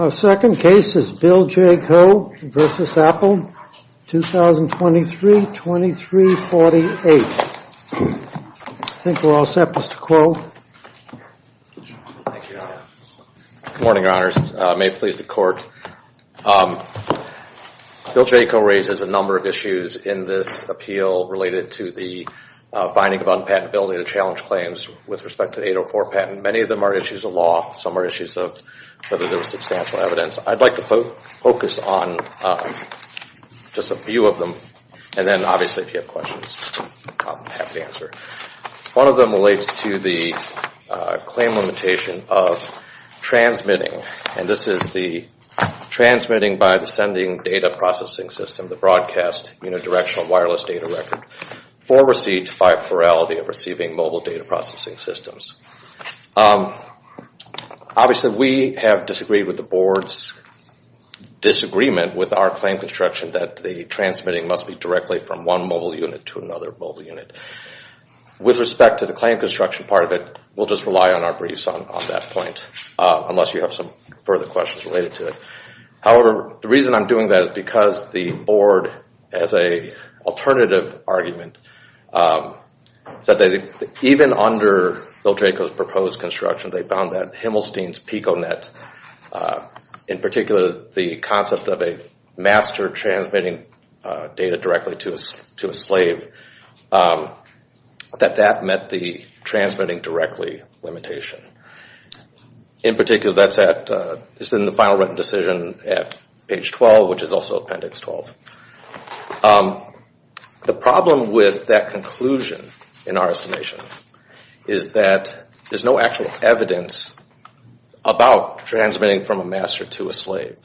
Our second case is BillJCo v. Apple, 2023-2348. I think we're all set, Mr. Kuo. Thank you, Your Honor. Good morning, Your Honors. May it please the Court. BillJCo raises a number of issues in this appeal related to the finding of unpatentability to challenge claims with respect to 804 patent. And many of them are issues of law. Some are issues of whether there was substantial evidence. I'd like to focus on just a few of them. And then, obviously, if you have questions, I'll be happy to answer. One of them relates to the claim limitation of transmitting. And this is the transmitting by the sending data processing system, the broadcast unidirectional wireless data record, for receipt by plurality of receiving mobile data processing systems. Obviously, we have disagreed with the Board's disagreement with our claim construction that the transmitting must be directly from one mobile unit to another mobile unit. With respect to the claim construction part of it, we'll just rely on our briefs on that point, unless you have some further questions related to it. However, the reason I'm doing that is because the Board, as an alternative argument, said that even under BillJCo's proposed construction, they found that Himmelstein's PICO net, in particular the concept of a master transmitting data directly to a slave, that that met the transmitting directly limitation. In particular, that's in the final written decision at page 12, which is also Appendix 12. The problem with that conclusion, in our estimation, is that there's no actual evidence about transmitting from a master to a slave.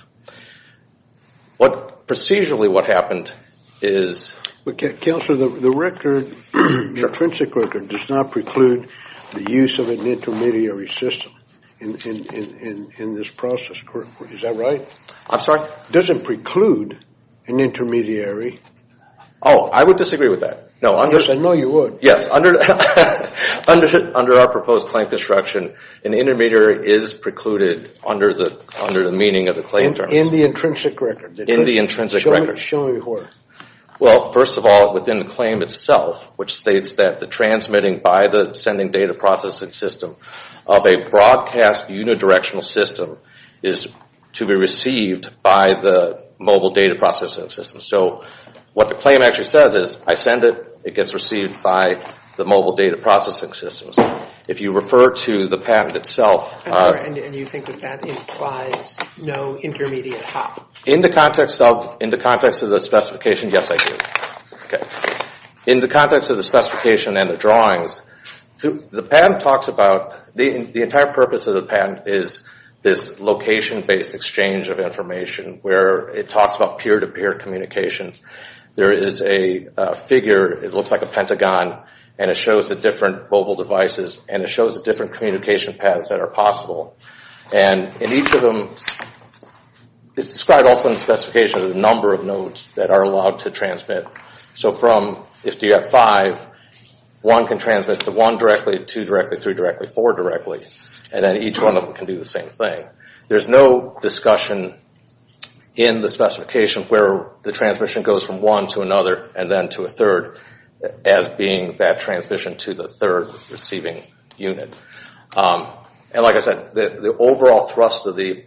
Procedurally, what happened is... Counselor, the record, the intrinsic record, does not preclude the use of an intermediary system in this process. Is that right? I'm sorry? Does it preclude an intermediary? Oh, I would disagree with that. I know you would. Yes, under our proposed claim construction, an intermediary is precluded under the meaning of the claim terms. In the intrinsic record? In the intrinsic record. Show me where. Well, first of all, within the claim itself, which states that the transmitting by the sending data processing system of a broadcast unidirectional system is to be received by the mobile data processing system. So what the claim actually says is, I send it, it gets received by the mobile data processing system. If you refer to the patent itself... And you think that that implies no intermediate hop? In the context of the specification, yes I do. In the context of the specification and the drawings, the patent talks about... The entire purpose of the patent is this location-based exchange of information where it talks about peer-to-peer communication. There is a figure, it looks like a pentagon, and it shows the different mobile devices, and it shows the different communication paths that are possible. And in each of them, it's described also in the specification of the number of nodes that are allowed to transmit. So if you have five, one can transmit to one directly, two directly, three directly, four directly, and then each one of them can do the same thing. There's no discussion in the specification where the transmission goes from one to another and then to a third, as being that transmission to the third receiving unit. And like I said, the overall thrust of the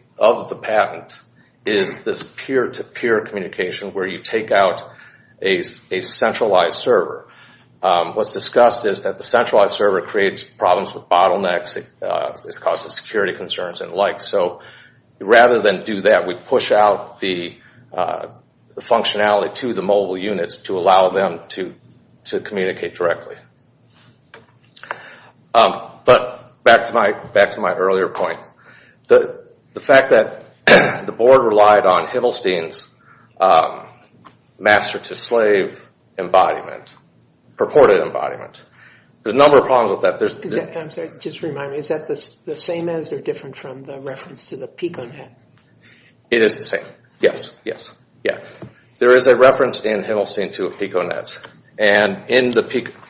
patent is this peer-to-peer communication where you take out a centralized server. What's discussed is that the centralized server creates problems with bottlenecks, it causes security concerns and the like. So rather than do that, we push out the functionality to the mobile units to allow them to communicate directly. But back to my earlier point. The fact that the board relied on Himmelstein's master-to-slave embodiment, purported embodiment, there's a number of problems with that. Is that the same as or different from the reference to the PicoNet? It is the same, yes. There is a reference in Himmelstein to a PicoNet.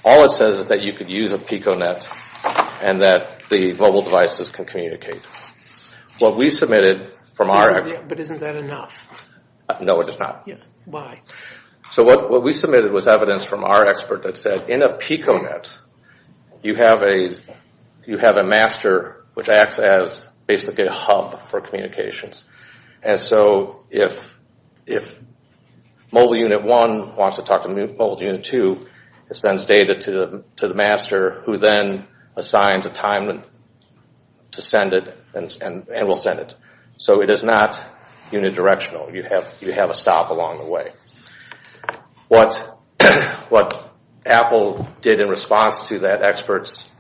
All it says is that you can use a PicoNet and that the mobile devices can communicate. But isn't that enough? No, it is not. Why? So what we submitted was evidence from our expert that said in a PicoNet, you have a master which acts as basically a hub for communications. And so if mobile unit one wants to talk to mobile unit two, it sends data to the master who then assigns a time to send it and will send it. So it is not unidirectional. You have a stop along the way. What Apple did in response to that expert's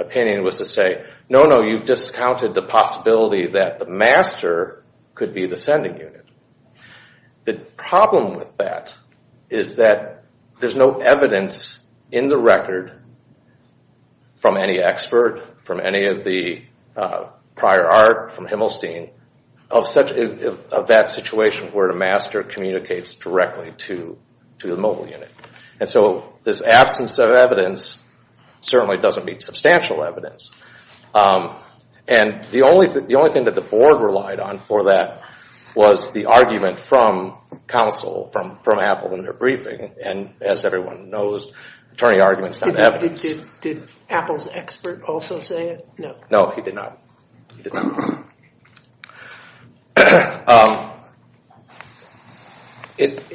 opinion was to say, no, no, you've discounted the possibility that the master could be the sending unit. The problem with that is that there's no evidence in the record from any expert, from any of the prior art, from Himmelstein, of that situation where the master communicates directly to the mobile unit. And so this absence of evidence certainly doesn't mean substantial evidence. And the only thing that the board relied on for that was the argument from counsel, from Apple in their briefing. And as everyone knows, attorney arguments have evidence. Did Apple's expert also say it? No, he did not. He did not.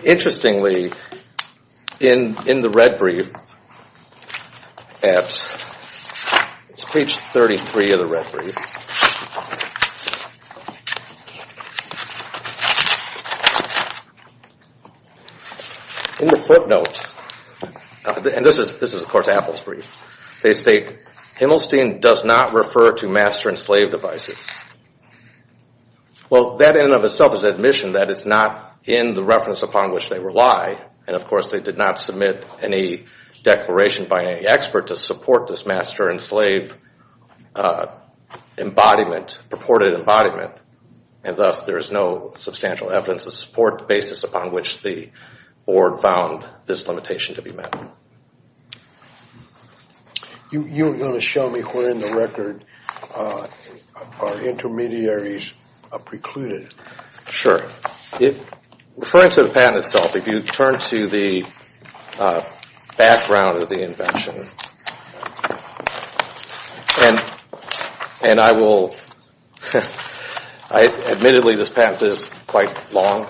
Interestingly, in the red brief at speech 33 of the red brief, in the footnote, and this is, of course, Apple's brief, they state, Himmelstein does not refer to master and slave devices. Well, that in and of itself is an admission that it's not in the reference upon which they rely. And, of course, they did not submit any declaration by any expert to support this master and slave embodiment, purported embodiment, and thus there is no substantial evidence to support the basis upon which the board found this limitation to be met. You were going to show me where in the record are intermediaries precluded. Sure. Referring to the patent itself, if you turn to the background of the invention, and I will, admittedly this patent is quite long,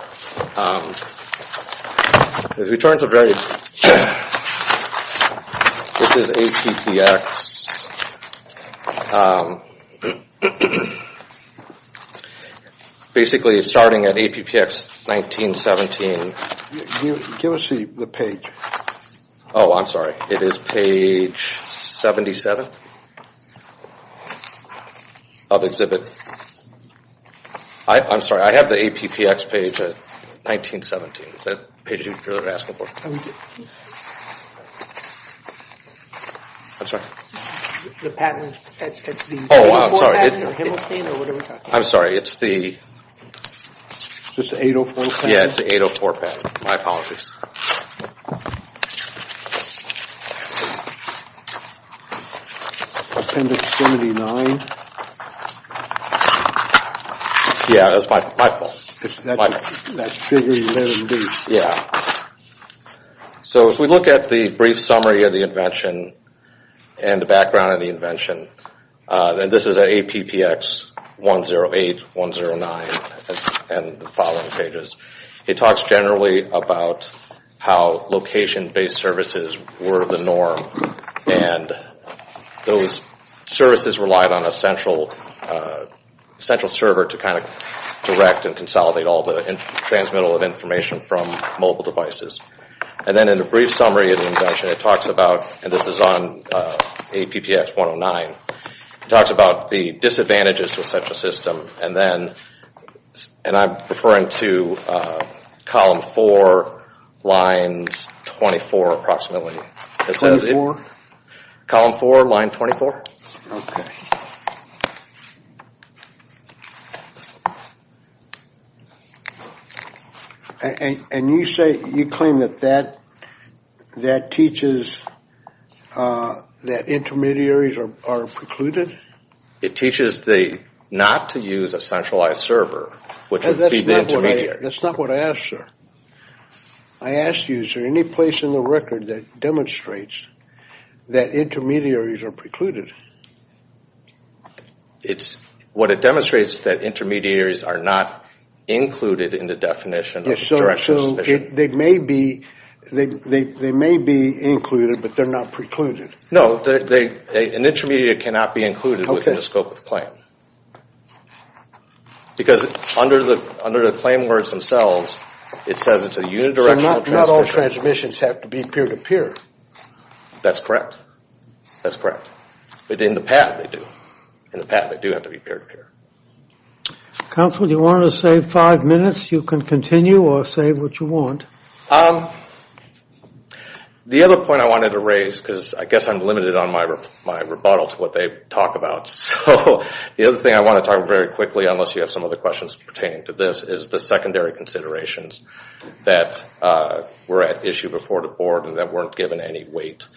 if you turn to the, this is APPX, basically starting at APPX 1917. Give us the page. Oh, I'm sorry. It is page 77 of exhibit. I'm sorry. I have the APPX page 1917. Is that the page you were asking for? I'm sorry. The patent. Oh, I'm sorry. Himmelstein or whatever. I'm sorry. It's the. It's the 804 patent. Yeah, it's the 804 patent. My apologies. Appendix 79. Yeah, that's my fault. That's page 11B. Yeah. So if we look at the brief summary of the invention and the background of the invention, and this is an APPX 108, 109, and the following pages. It talks generally about how location-based services were the norm, and those services relied on a central server to kind of direct and consolidate all the transmittal of information from mobile devices. And then in the brief summary of the invention, it talks about, and this is on APPX 109, it talks about the disadvantages of such a system, and then, and I'm referring to column 4, line 24 approximately. Column 4, line 24. And you say, you claim that that teaches that intermediaries are precluded? It teaches not to use a centralized server, which would be the intermediary. That's not what I asked, sir. I asked you, is there any place in the record that demonstrates that intermediaries are precluded? What it demonstrates is that intermediaries are not included in the definition. So they may be included, but they're not precluded. No, an intermediary cannot be included within the scope of the claim. Because under the claim words themselves, it says it's a unidirectional transmission. So not all transmissions have to be peer-to-peer. That's correct. That's correct. But in the patent, they do. In the patent, they do have to be peer-to-peer. Counsel, do you want to save five minutes? You can continue or save what you want. The other point I wanted to raise, because I guess I'm limited on my rebuttal to what they talk about. So the other thing I want to talk about very quickly, unless you have some other questions pertaining to this, is the secondary considerations that were at issue before the board and that weren't given any weight.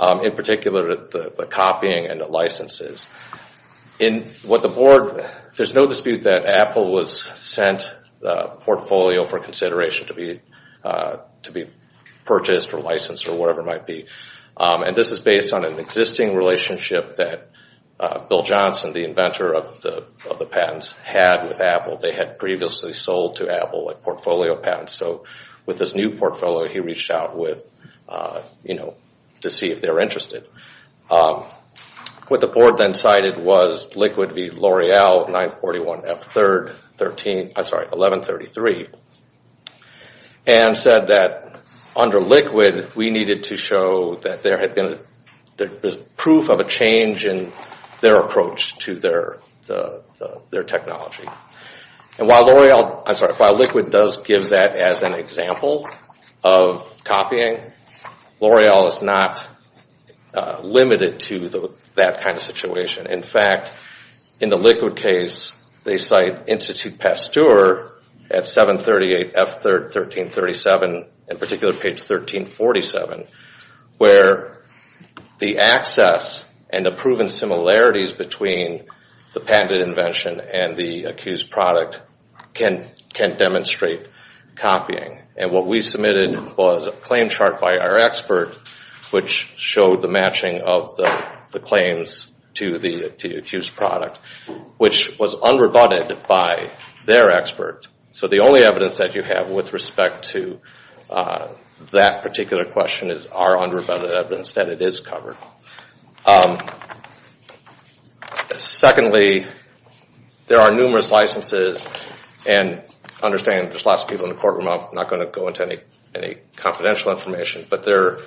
In particular, the copying and the licenses. In what the board, there's no dispute that Apple was sent a portfolio for consideration to be purchased or licensed or whatever it might be. And this is based on an existing relationship that Bill Johnson, the inventor of the patent, had with Apple. They had previously sold to Apple a portfolio patent. So with this new portfolio, he reached out to see if they were interested. What the board then cited was Liquid v. L'Oreal 941F1133. And said that under Liquid, we needed to show that there was proof of a change in their approach to their technology. And while Liquid does give that as an example of copying, L'Oreal is not limited to that kind of situation. In fact, in the Liquid case, they cite Institute Pasteur at 738F1337, in particular page 1347, where the access and the proven similarities between the patented invention and the accused product can demonstrate copying. And what we submitted was a claim chart by our expert, which showed the matching of the claims to the accused product, which was unrebutted by their expert. So the only evidence that you have with respect to that particular question is our unrebutted evidence that it is covered. Secondly, there are numerous licenses. And I understand there's lots of people in the courtroom. I'm not going to go into any confidential information. But there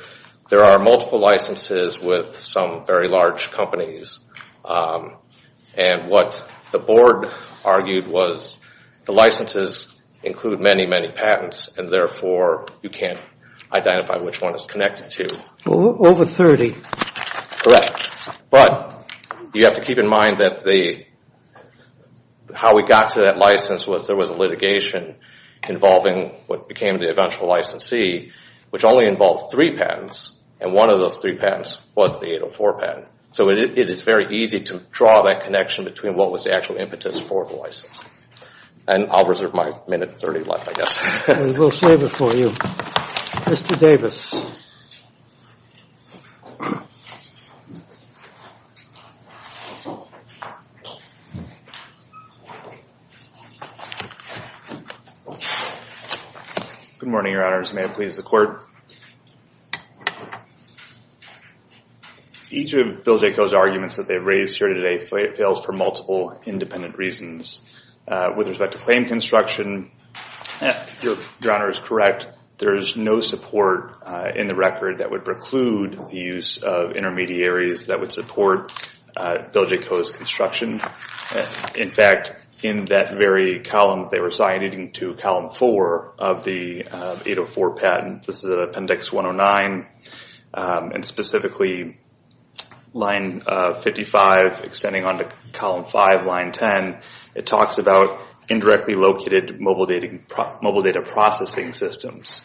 are multiple licenses with some very large companies. And what the board argued was the licenses include many, many patents, and therefore you can't identify which one it's connected to. Over 30. Correct. But you have to keep in mind that how we got to that license was there was a litigation involving what became the eventual licensee, which only involved three patents, and one of those three patents was the 804 patent. So it is very easy to draw that connection between what was the actual impetus for the license. And I'll reserve my minute 30 left, I guess. We'll save it for you. Good morning, Your Honors. May it please the Court. Each of Bill Jaco's arguments that they've raised here today fails for multiple independent reasons. With respect to claim construction, Your Honor is correct. There is no support in the record that would preclude the use of intermediaries that would support Bill Jaco's construction. In fact, in that very column, they were signing into column four of the 804 patent. This is Appendix 109. And specifically, line 55, extending onto column five, line 10, it talks about indirectly located mobile data processing systems.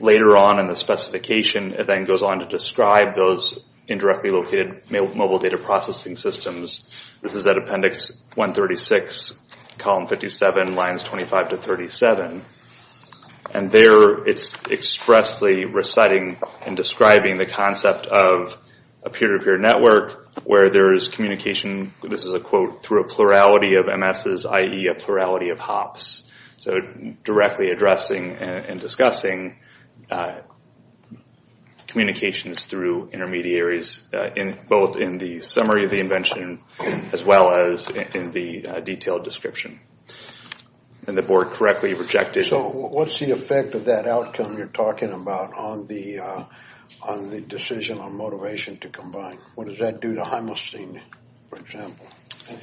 Later on in the specification, it then goes on to describe those indirectly located mobile data processing systems. This is at Appendix 136, column 57, lines 25 to 37. And there, it's expressly reciting and describing the concept of a peer-to-peer network where there is communication, this is a quote, through a plurality of MSs, i.e. a plurality of HOPs. So directly addressing and discussing communications through intermediaries, both in the summary of the invention as well as in the detailed description. And the Board correctly rejected... So what's the effect of that outcome you're talking about on the decision on motivation to combine? What does that do to Heimlstein, for example? I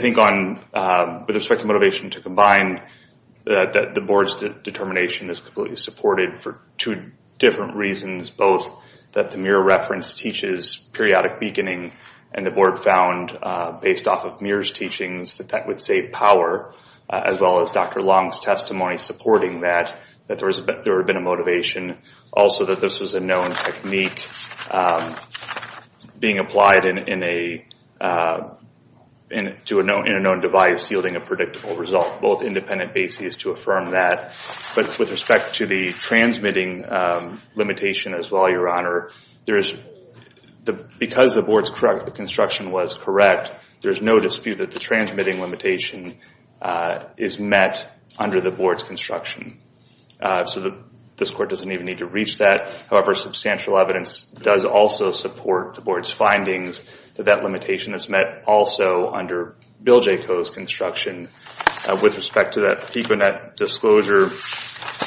think with respect to motivation to combine, that the Board's determination is completely supported for two different reasons, both that the Muir reference teaches periodic beaconing, and the Board found, based off of Muir's teachings, that that would save power, as well as Dr. Long's testimony supporting that, that there would have been a motivation. Also that this was a known technique being applied to a known device yielding a predictable result, both independent bases to affirm that. But with respect to the transmitting limitation as well, Your Honor, because the Board's construction was correct, there's no dispute that the transmitting limitation is met under the Board's construction. So this Court doesn't even need to reach that. However, substantial evidence does also support the Board's findings that that limitation is met also under Bill J. Coe's construction. With respect to that PICO-Net disclosure,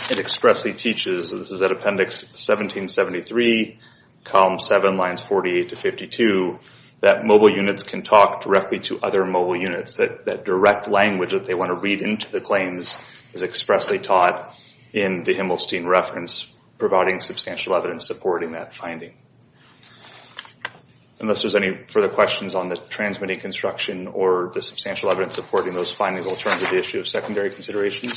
it expressly teaches, and this is at Appendix 1773, column 7, lines 48 to 52, that mobile units can talk directly to other mobile units. That direct language that they want to read into the claims is expressly taught in the Himmelstein reference, providing substantial evidence supporting that finding. Unless there's any further questions on the transmitting construction or the substantial evidence supporting those findings, we'll turn to the issue of secondary considerations.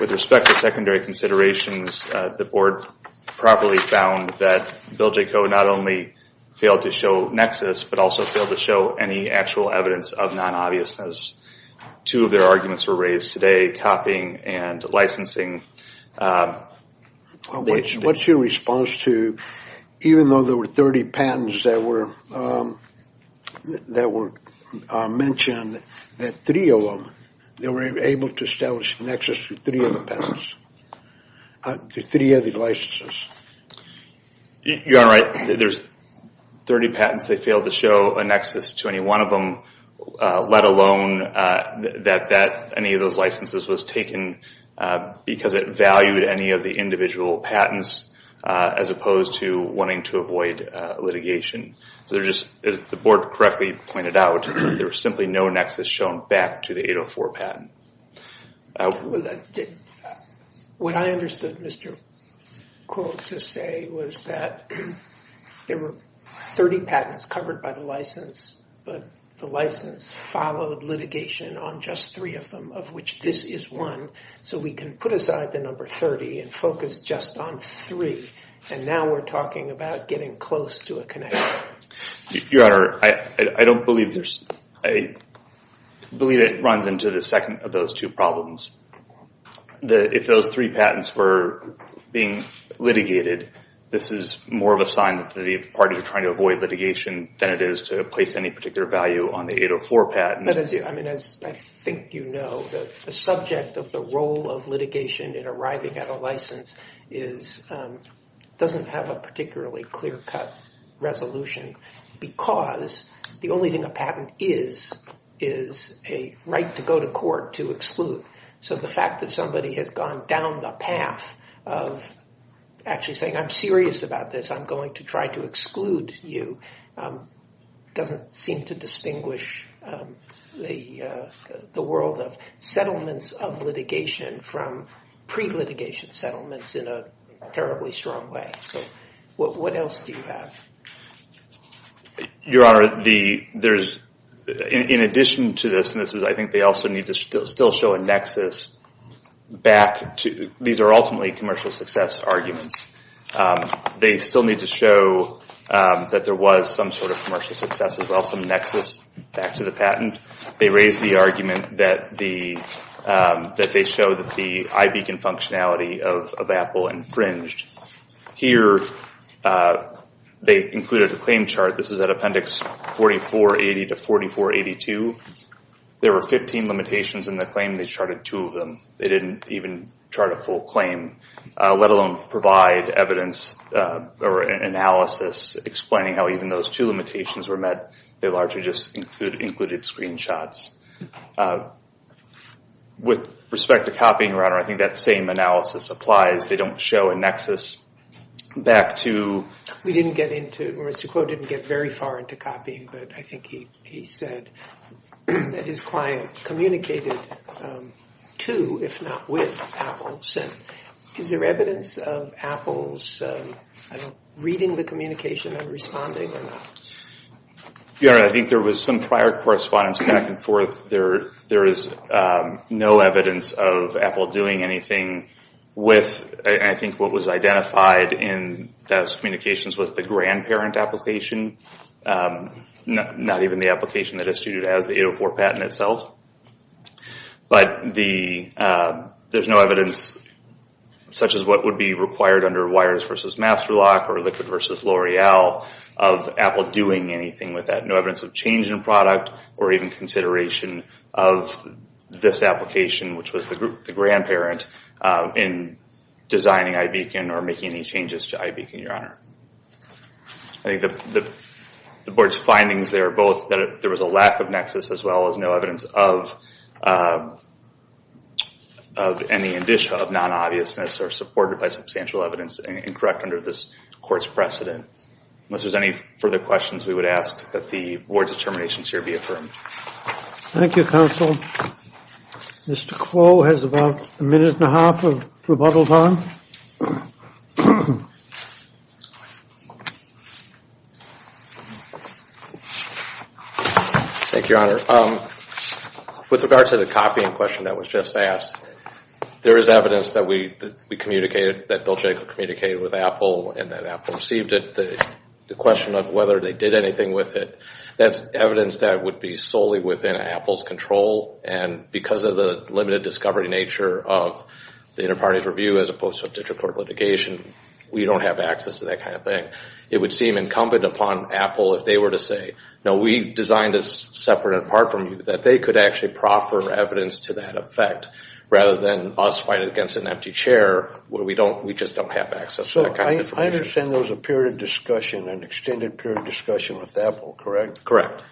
With respect to secondary considerations, the Board properly found that Bill J. Coe not only failed to show nexus, but also failed to show any actual evidence of non-obviousness. As two of their arguments were raised today, copying and licensing. What's your response to, even though there were 30 patents that were mentioned, that three of them, they were able to establish a nexus for three of the patents? The three of the licenses? You're right. There's 30 patents, they failed to show a nexus to any one of them, let alone that any of those licenses was taken because it valued any of the individual patents, as opposed to wanting to avoid litigation. As the Board correctly pointed out, there was simply no nexus shown back to the 804 patent. What I understood Mr. Coe to say was that there were 30 patents covered by the license, but the license followed litigation on just three of them, of which this is one. So we can put aside the number 30 and focus just on three. And now we're talking about getting close to a connection. Your Honor, I don't believe there's... I believe it runs into the second of those two problems. If those three patents were being litigated, this is more of a sign that the parties are trying to avoid litigation than it is to place any particular value on the 804 patent. But as I think you know, the subject of the role of litigation in arriving at a license doesn't have a particularly clear-cut resolution because the only thing a patent is is a right to go to court to exclude. So the fact that somebody has gone down the path of actually saying, I'm serious about this, I'm going to try to exclude you, doesn't seem to distinguish the world of settlements of litigation from pre-litigation settlements in a terribly strong way. What else do you have? Your Honor, in addition to this, I think they also need to still show a nexus back to... These are ultimately commercial success arguments. They still need to show that there was some sort of commercial success, as well as some nexus back to the patent. They raised the argument that they showed that the iBeacon functionality of Apple infringed. Here, they included a claim chart. This is at Appendix 4480 to 4482. There were 15 limitations in the claim. They charted two of them. They didn't even chart a full claim, let alone provide evidence or analysis explaining how even those two limitations were met. They largely just included screenshots. With respect to copying, Your Honor, I think that same analysis applies. They don't show a nexus back to... We didn't get into it. Mr. Kuo didn't get very far into copying, but I think he said that his client communicated to, if not with, Apple. Is there evidence of Apple's reading the communication and responding or not? Your Honor, I think there was some prior correspondence back and forth. There is no evidence of Apple doing anything with... I think what was identified in those communications was the grandparent application, not even the application that is treated as the 804 patent itself. There's no evidence, such as what would be required under Wires v. Master Lock or Liquid v. L'Oreal, of Apple doing anything with that. No evidence of change in product or even consideration of this application, which was the grandparent, in designing iBeacon or making any changes to iBeacon, Your Honor. I think the board's findings there are both that there was a lack of nexus as well as no evidence of any indicia of non-obviousness or supported by substantial evidence incorrect under this court's precedent. Unless there's any further questions, we would ask that the board's determinations here be affirmed. Thank you, Counsel. Mr. Crow has about a minute and a half of rebuttal time. Thank you, Your Honor. With regard to the copying question that was just asked, there is evidence that we communicated, that Bill Jacob communicated with Apple and that Apple received it. The question of whether they did anything with it, that's evidence that would be solely within Apple's control and because of the limited discovery nature of the Interparties Review as opposed to a digital court litigation, we don't have access to that kind of thing. It would seem incumbent upon Apple if they were to say, no, we designed this separate and apart from you, that they could actually proffer evidence to that effect rather than us fighting against an empty chair where we just don't have access to that kind of information. I understand there was a period of discussion, an extended period of discussion with Apple, correct?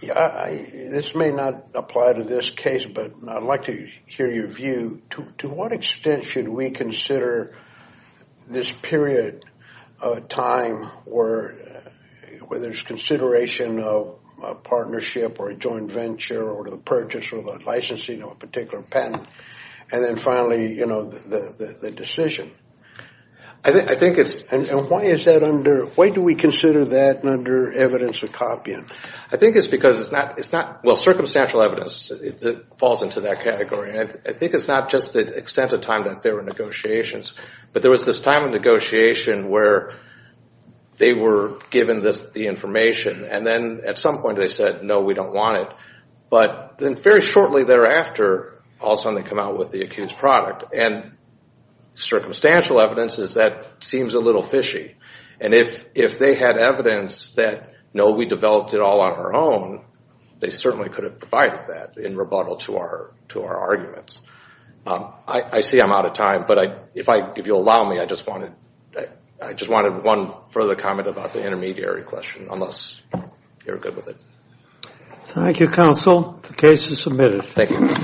This may not apply to this case, but I'd like to hear your view. To what extent should we consider this period of time where there's consideration of a partnership or a joint venture or the purchase or the licensing of a particular patent? And then finally, the decision. I think it's... And why is that under... Why do we consider that under evidence of copying? I think it's because it's not... Well, circumstantial evidence falls into that category and I think it's not just the extent of time that there were negotiations, but there was this time of negotiation where they were given the information and then at some point they said, no, we don't want it. But then very shortly thereafter, all of a sudden they come out with the accused product and circumstantial evidence is that seems a little fishy. And if they had evidence that, no, we developed it all on our own, they certainly could have provided that in rebuttal to our arguments. I see I'm out of time, but if you'll allow me, I just wanted one further comment about the intermediary question, unless you're good with it. Thank you, counsel. The case is submitted.